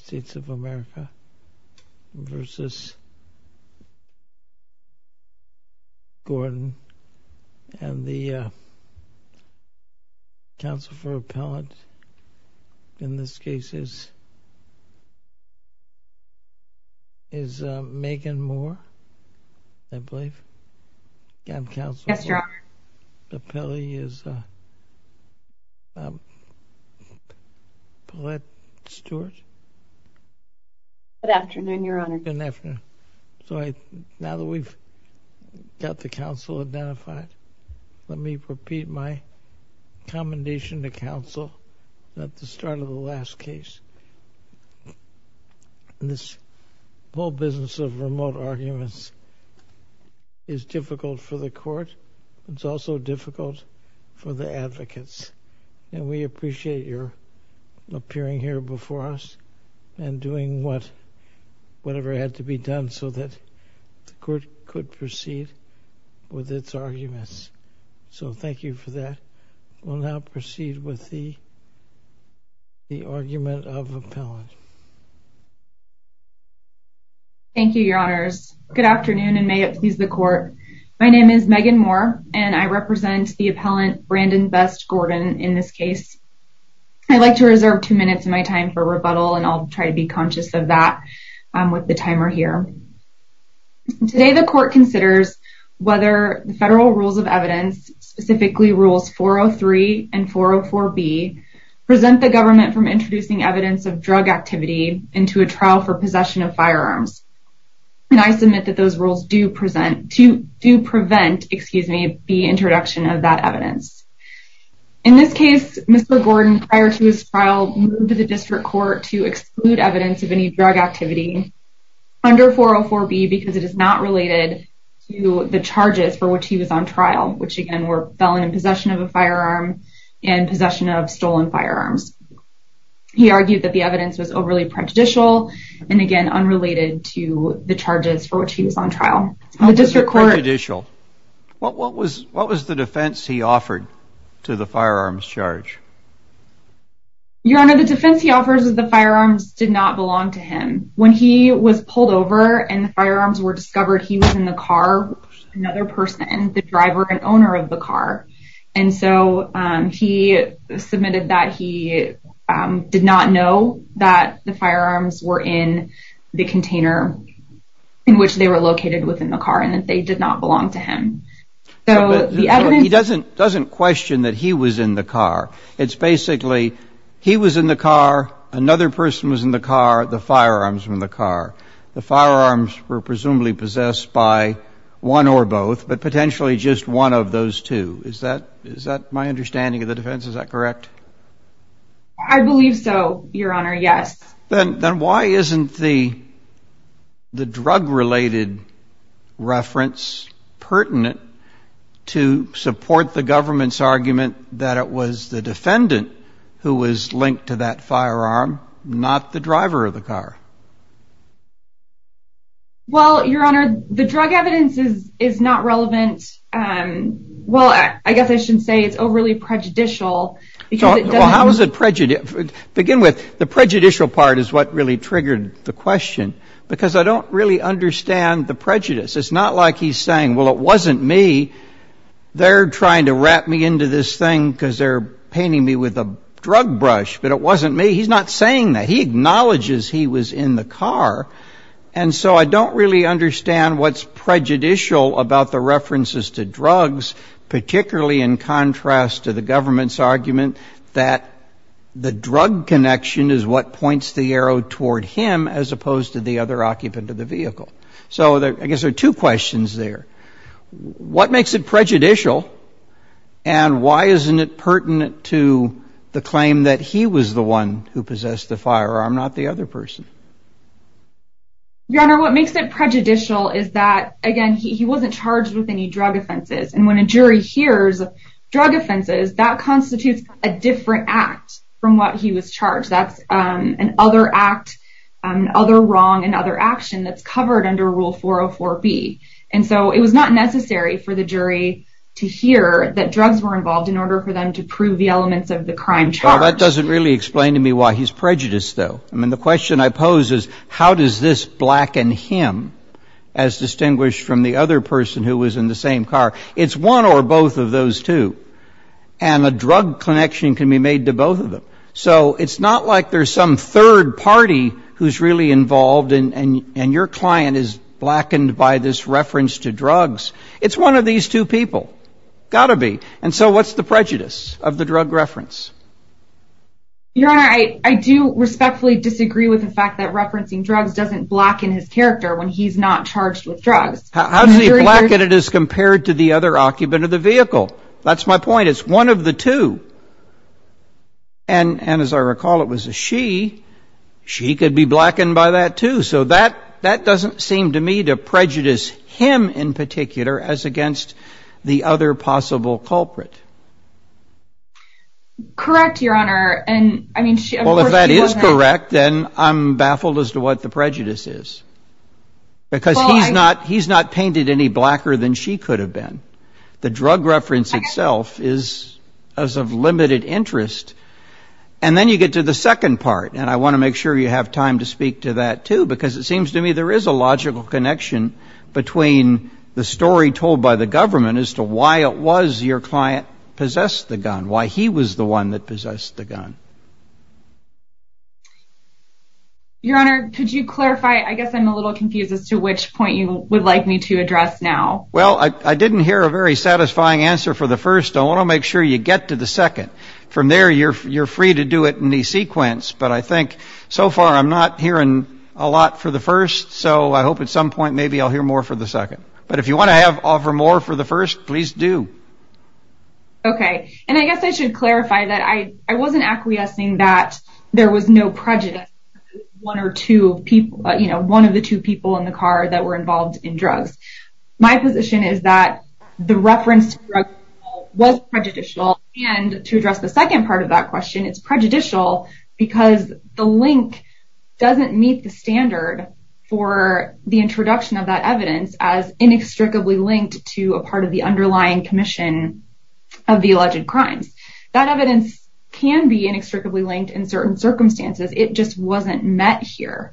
and the Council for Appellate in this case is Megan Moore, I believe, and the Council for Appellate is Paulette Stewart. Good afternoon, Your Honor. Good afternoon. Now that we've got the counsel identified, let me repeat my commendation to counsel at the start of the last case. This whole business of remote arguments is difficult for the it's also difficult for the advocates and we appreciate your appearing here before us and doing what whatever had to be done so that the court could proceed with its arguments. So thank you for that. We'll now proceed with the argument of appellant. Thank you, Your Honors. Good afternoon and may it please the court. My name is Megan Moore and I represent the appellant Brandon Best Gordon in this case. I'd like to reserve two minutes of my time for rebuttal and I'll try to be conscious of that with the timer here. Today the court considers whether the federal rules of evidence, specifically rules 403 and 404B, present the government from introducing evidence of drug activity into a trial for possession of firearms. And I submit that those rules do present, do prevent, excuse me, the introduction of that evidence. In this case, Mr. Gordon prior to his trial moved to the district court to exclude evidence of any drug activity under 404B because it is not related to the charges for which he was on trial, which again were felon in possession of a firearm and possession of stolen firearms. He argued that the evidence was overly prejudicial and again unrelated to the charges for which he was on trial. What was the defense he offered to the firearms charge? Your Honor, the defense he offers is the firearms did not belong to him. When he was pulled over and the firearms were discovered, he was in the car, another person, the driver and owner of the car submitted that he did not know that the firearms were in the container in which they were located within the car and that they did not belong to him. He doesn't question that he was in the car. It's basically he was in the car, another person was in the car, the firearms were in the car. The firearms were presumably possessed by one or both, but potentially just one of those two. Is that my understanding of the defense? Is that correct? I believe so, Your Honor. Yes. Then why isn't the the drug-related reference pertinent to support the government's argument that it was the defendant who was linked to that firearm, not the driver of the car? Well, Your Honor, the drug evidence is not relevant. Well, I guess I shouldn't say it's overly prejudicial. Well, how is it prejudicial? Begin with the prejudicial part is what really triggered the question, because I don't really understand the prejudice. It's not like he's saying, well, it wasn't me. They're trying to wrap me into this thing because they're painting me with a drug brush, but it wasn't me. He's not saying that. He acknowledges he was in the car, and so I don't really understand what's the reference to drugs, particularly in contrast to the government's argument that the drug connection is what points the arrow toward him as opposed to the other occupant of the vehicle. So I guess there are two questions there. What makes it prejudicial, and why isn't it pertinent to the claim that he was the one who possessed the firearm, not the other person? Your Honor, what makes it prejudicial is that he was not involved with any drug offenses, and when a jury hears drug offenses, that constitutes a different act from what he was charged. That's another act, another wrong, another action that's covered under Rule 404B, and so it was not necessary for the jury to hear that drugs were involved in order for them to prove the elements of the crime charged. Well, that doesn't really explain to me why he's prejudiced, though. I mean, the question I pose is, how does this blacken him as distinguished from the other person who was in the same car? It's one or both of those two, and a drug connection can be made to both of them. So it's not like there's some third party who's really involved, and your client is blackened by this reference to drugs. It's one of these two people. Got to be. And so what's the prejudice of the drug reference? Your doesn't blacken his character when he's not charged with drugs. How does he blacken it as compared to the other occupant of the vehicle? That's my point. It's one of the two. And as I recall, it was a she. She could be blackened by that, too. So that doesn't seem to me to prejudice him in particular as against the other possible culprit. Correct, Your Honor. Well, if that is correct, then I'm baffled as to what the prejudice is, because he's not painted any blacker than she could have been. The drug reference itself is of limited interest. And then you get to the second part, and I want to make sure you have time to speak to that, too, because it seems to me there is a logical connection between the story told by the government as to why it was your client possessed the gun, why he was the one that possessed the gun. Your Honor, could you clarify? I guess I'm a little confused as to which point you would like me to address now. Well, I didn't hear a very satisfying answer for the first. I want to make sure you get to the second. From there, you're free to do it in the sequence. But I think so far I'm not hearing a lot for the first. So I hope at some point maybe I'll hear more for the second. But if you want to offer more for the first, please do. Okay. And I guess I should clarify that I wasn't acquiescing that there was no one or two people, you know, one of the two people in the car that were involved in drugs. My position is that the reference was prejudicial. And to address the second part of that question, it's prejudicial because the link doesn't meet the standard for the introduction of that evidence as inextricably linked to a part of the underlying commission of the alleged crimes. That evidence can be inextricably linked in certain circumstances. It just wasn't met here.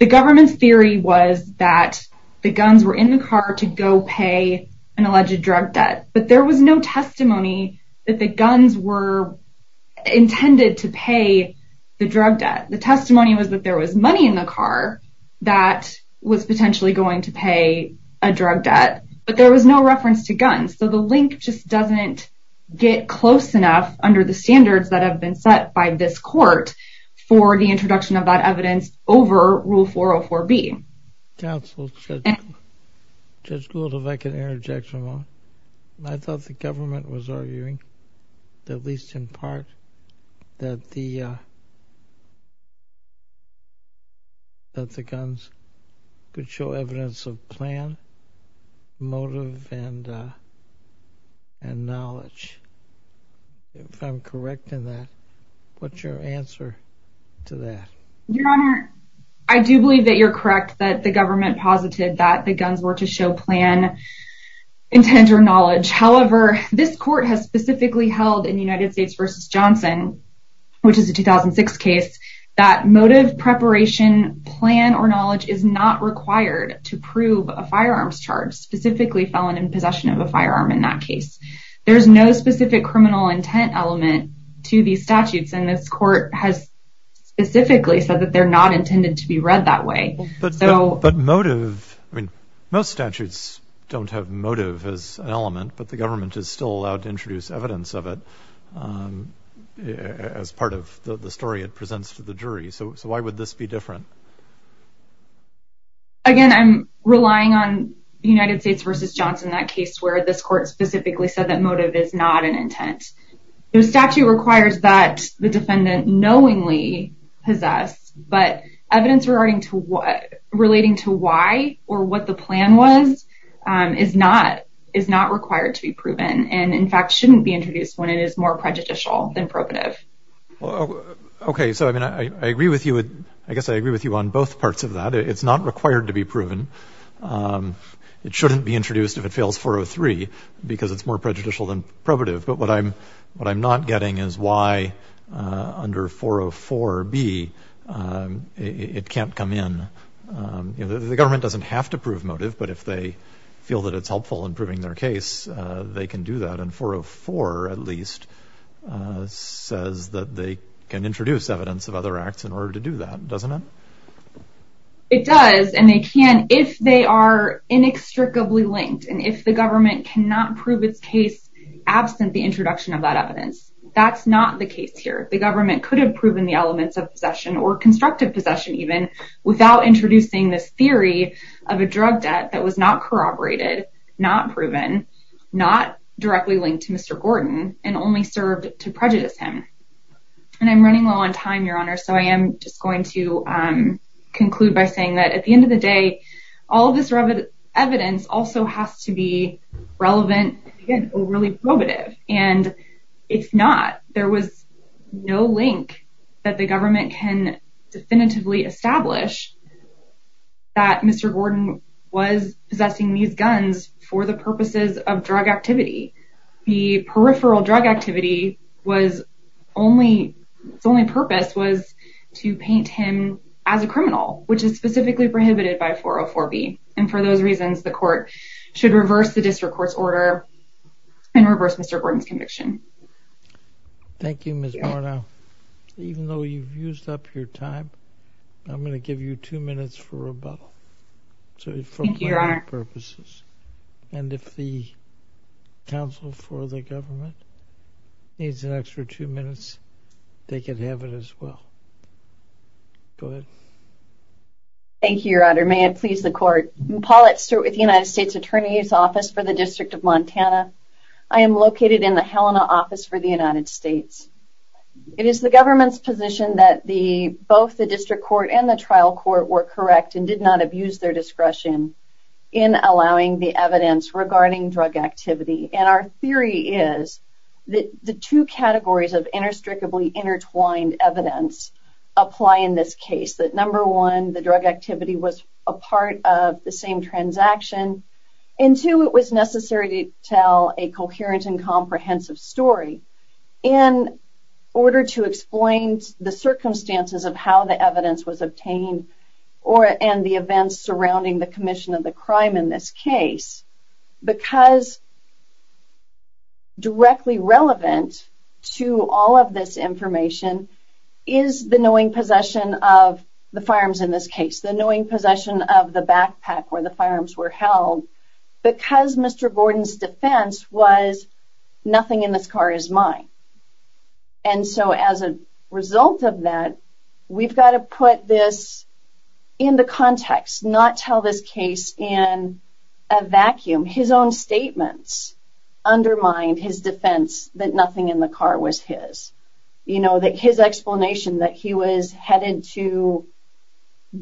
The government's theory was that the guns were in the car to go pay an alleged drug debt. But there was no testimony that the guns were intended to pay the drug debt. The testimony was that there was money in the car that was potentially going to pay a drug debt. But there was no reference to guns. So link just doesn't get close enough under the standards that have been set by this court for the introduction of that evidence over Rule 404B. Counsel, Judge Gould, if I could interject for a moment. I thought the government was arguing, at least in part, that the guns could show evidence of plan, motive, and knowledge. If I'm correct in that, what's your answer to that? Your Honor, I do believe that you're correct that the government posited that the guns were to show plan, intent, or knowledge. However, this court has specifically held in United States v. Johnson, which is a 2006 case, that motive, preparation, plan, or knowledge is not required to prove a firearms charge, specifically felon in possession of a firearm in that case. There's no specific criminal intent element to these statutes, and this court has specifically said that they're not intended to be read that way. But motive, I mean, most statutes don't have motive as an element, but the government is still allowed to introduce evidence of it as part of the story it the jury. So why would this be different? Again, I'm relying on United States v. Johnson, that case where this court specifically said that motive is not an intent. The statute requires that the defendant knowingly possess, but evidence relating to why or what the plan was is not required to be proven, and in fact shouldn't be introduced when it is more prejudicial than probative. Well, okay, so I mean, I agree with you. I guess I agree with you on both parts of that. It's not required to be proven. It shouldn't be introduced if it fails 403, because it's more prejudicial than probative. But what I'm not getting is why under 404b it can't come in. The government doesn't have to prove motive, but if they feel that it's helpful in proving their case, they can do that. And at least says that they can introduce evidence of other acts in order to do that, doesn't it? It does, and they can if they are inextricably linked, and if the government cannot prove its case absent the introduction of that evidence. That's not the case here. The government could have proven the elements of possession or constructive possession even without introducing this theory of and only served to prejudice him. And I'm running low on time, Your Honor, so I am just going to conclude by saying that at the end of the day, all of this evidence also has to be relevant and overly probative. And if not, there was no link that the government can definitively establish that Mr. Gordon was possessing these guns for the purposes of drug activity. The peripheral drug activity its only purpose was to paint him as a criminal, which is specifically prohibited by 404b. And for those reasons, the court should reverse the district court's order and reverse Mr. Gordon's conviction. Thank you, Ms. Barnow. Even though you've used up your time, I'm going to give you two minutes for rebuttal. Thank you, Your Honor. And if the counsel for the government needs an extra two minutes, they can have it as well. Go ahead. Thank you, Your Honor. May it please the court. Paulette Stewart with the United States Attorney's Office for the District of Montana. I am located in the Helena office for the United States. It is the government's position that both the district court and the trial court were correct and did not abuse their discretion in allowing the evidence regarding drug activity. And our theory is that the two categories of interstricably intertwined evidence apply in this case. That number one, the drug activity was a part of the same transaction. And two, it was necessary to tell a coherent and comprehensive story in order to explain the circumstances of how the evidence was obtained and the events surrounding the commission of the crime in this case. Because directly relevant to all of this information is the knowing possession of the firearms in this case. The knowing possession of the backpack where the firearms were held. Because Mr. Gordon's nothing in this car is mine. And so as a result of that, we've got to put this in the context. Not tell this case in a vacuum. His own statements undermined his defense that nothing in the car was his. You know, that his explanation that he was headed to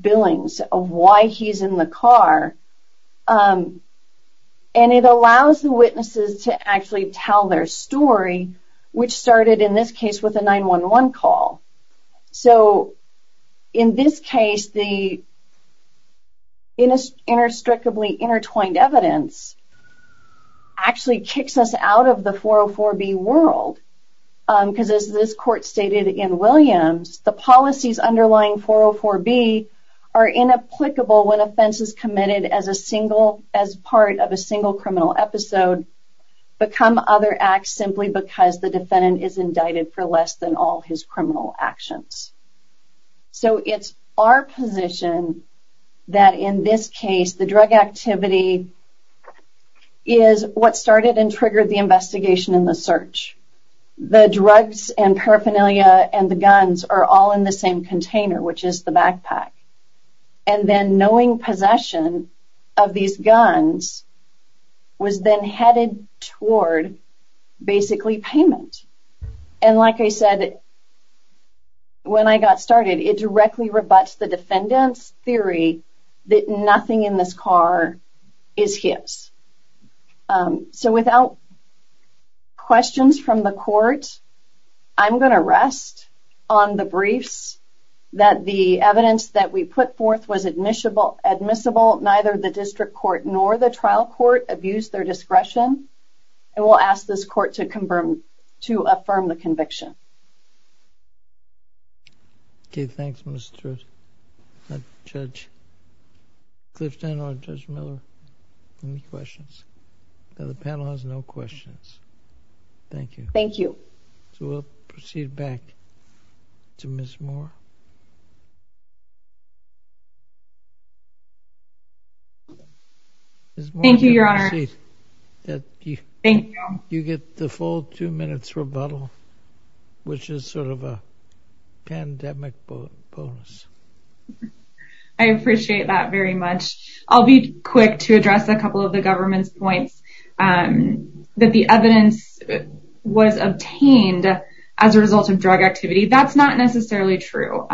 billings of he's in the car. And it allows the witnesses to actually tell their story, which started in this case with a 911 call. So in this case, the interstricably intertwined evidence actually kicks us out of the 404B world. Because as this is committed as a single, as part of a single criminal episode, become other acts simply because the defendant is indicted for less than all his criminal actions. So it's our position that in this case, the drug activity is what started and triggered the investigation in the search. The drugs and paraphernalia and the guns are all in the same container, which is the possession of these guns was then headed toward basically payment. And like I said, when I got started, it directly rebuts the defendant's theory that nothing in this car is his. So without questions from the court, I'm going to rest on the briefs that the evidence that we put forth was admissible, neither the district court nor the trial court abused their discretion. And we'll ask this court to affirm the conviction. Okay, thanks, Judge Clifton or Judge Miller. Any questions? The panel has no questions. Thank you. Thank you. So we'll proceed back to Ms. Moore. Thank you, Your Honor. You get the full two minutes rebuttal, which is sort of a pandemic bonus. I appreciate that very much. I'll be quick to address a couple of the government's points. And that the evidence was obtained as a result of drug activity. That's not necessarily true.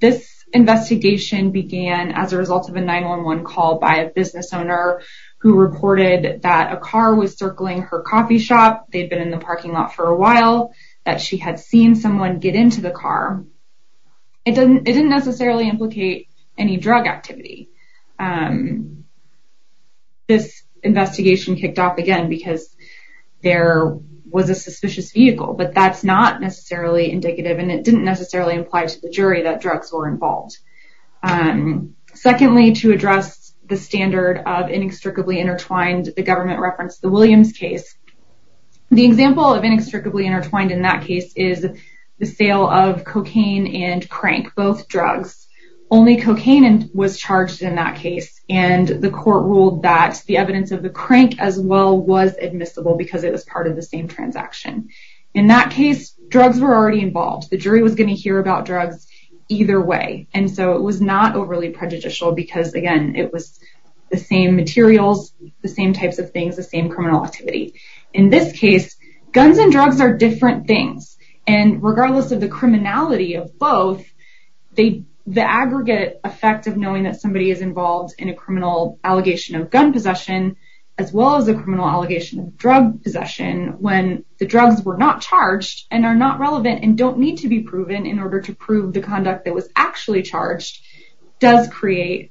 This investigation began as a result of a 911 call by a business owner who reported that a car was circling her coffee shop. They'd been in the parking lot for a while, that she had seen someone get into the car. It didn't necessarily implicate any drug activity. This investigation kicked off again, because there was a suspicious vehicle. But that's not necessarily indicative. And it didn't necessarily imply to the jury that drugs were involved. Secondly, to address the standard of inextricably intertwined, the government referenced the Williams case. The example of inextricably intertwined in that case is the sale of cocaine and crank, both drugs. Only cocaine was charged in that case. And the court ruled that the evidence of the crank as well was admissible, because it was part of the same transaction. In that case, drugs were already involved. The jury was going to hear about drugs either way. And so it was not overly prejudicial, because again, it was the same materials, the same types of things, the same criminal activity. In this case, guns and drugs are different things. And regardless of criminality of both, the aggregate effect of knowing that somebody is involved in a criminal allegation of gun possession, as well as a criminal allegation of drug possession, when the drugs were not charged and are not relevant and don't need to be proven in order to prove the conduct that was actually charged, does create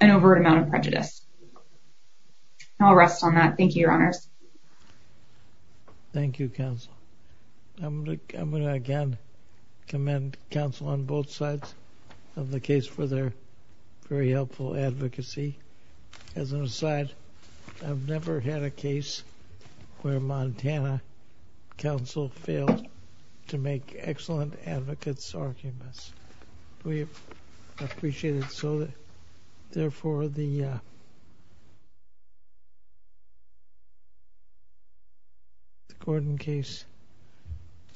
an overt amount of prejudice. I'll rest on that. Thank you, Your Honor. Thank you, counsel. I'm going to again commend counsel on both sides of the case for their very helpful advocacy. As an aside, I've never had a case where Montana counsel failed to make excellent advocates arguments. We appreciate it so that therefore the case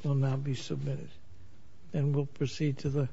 will now be submitted. And we'll proceed to the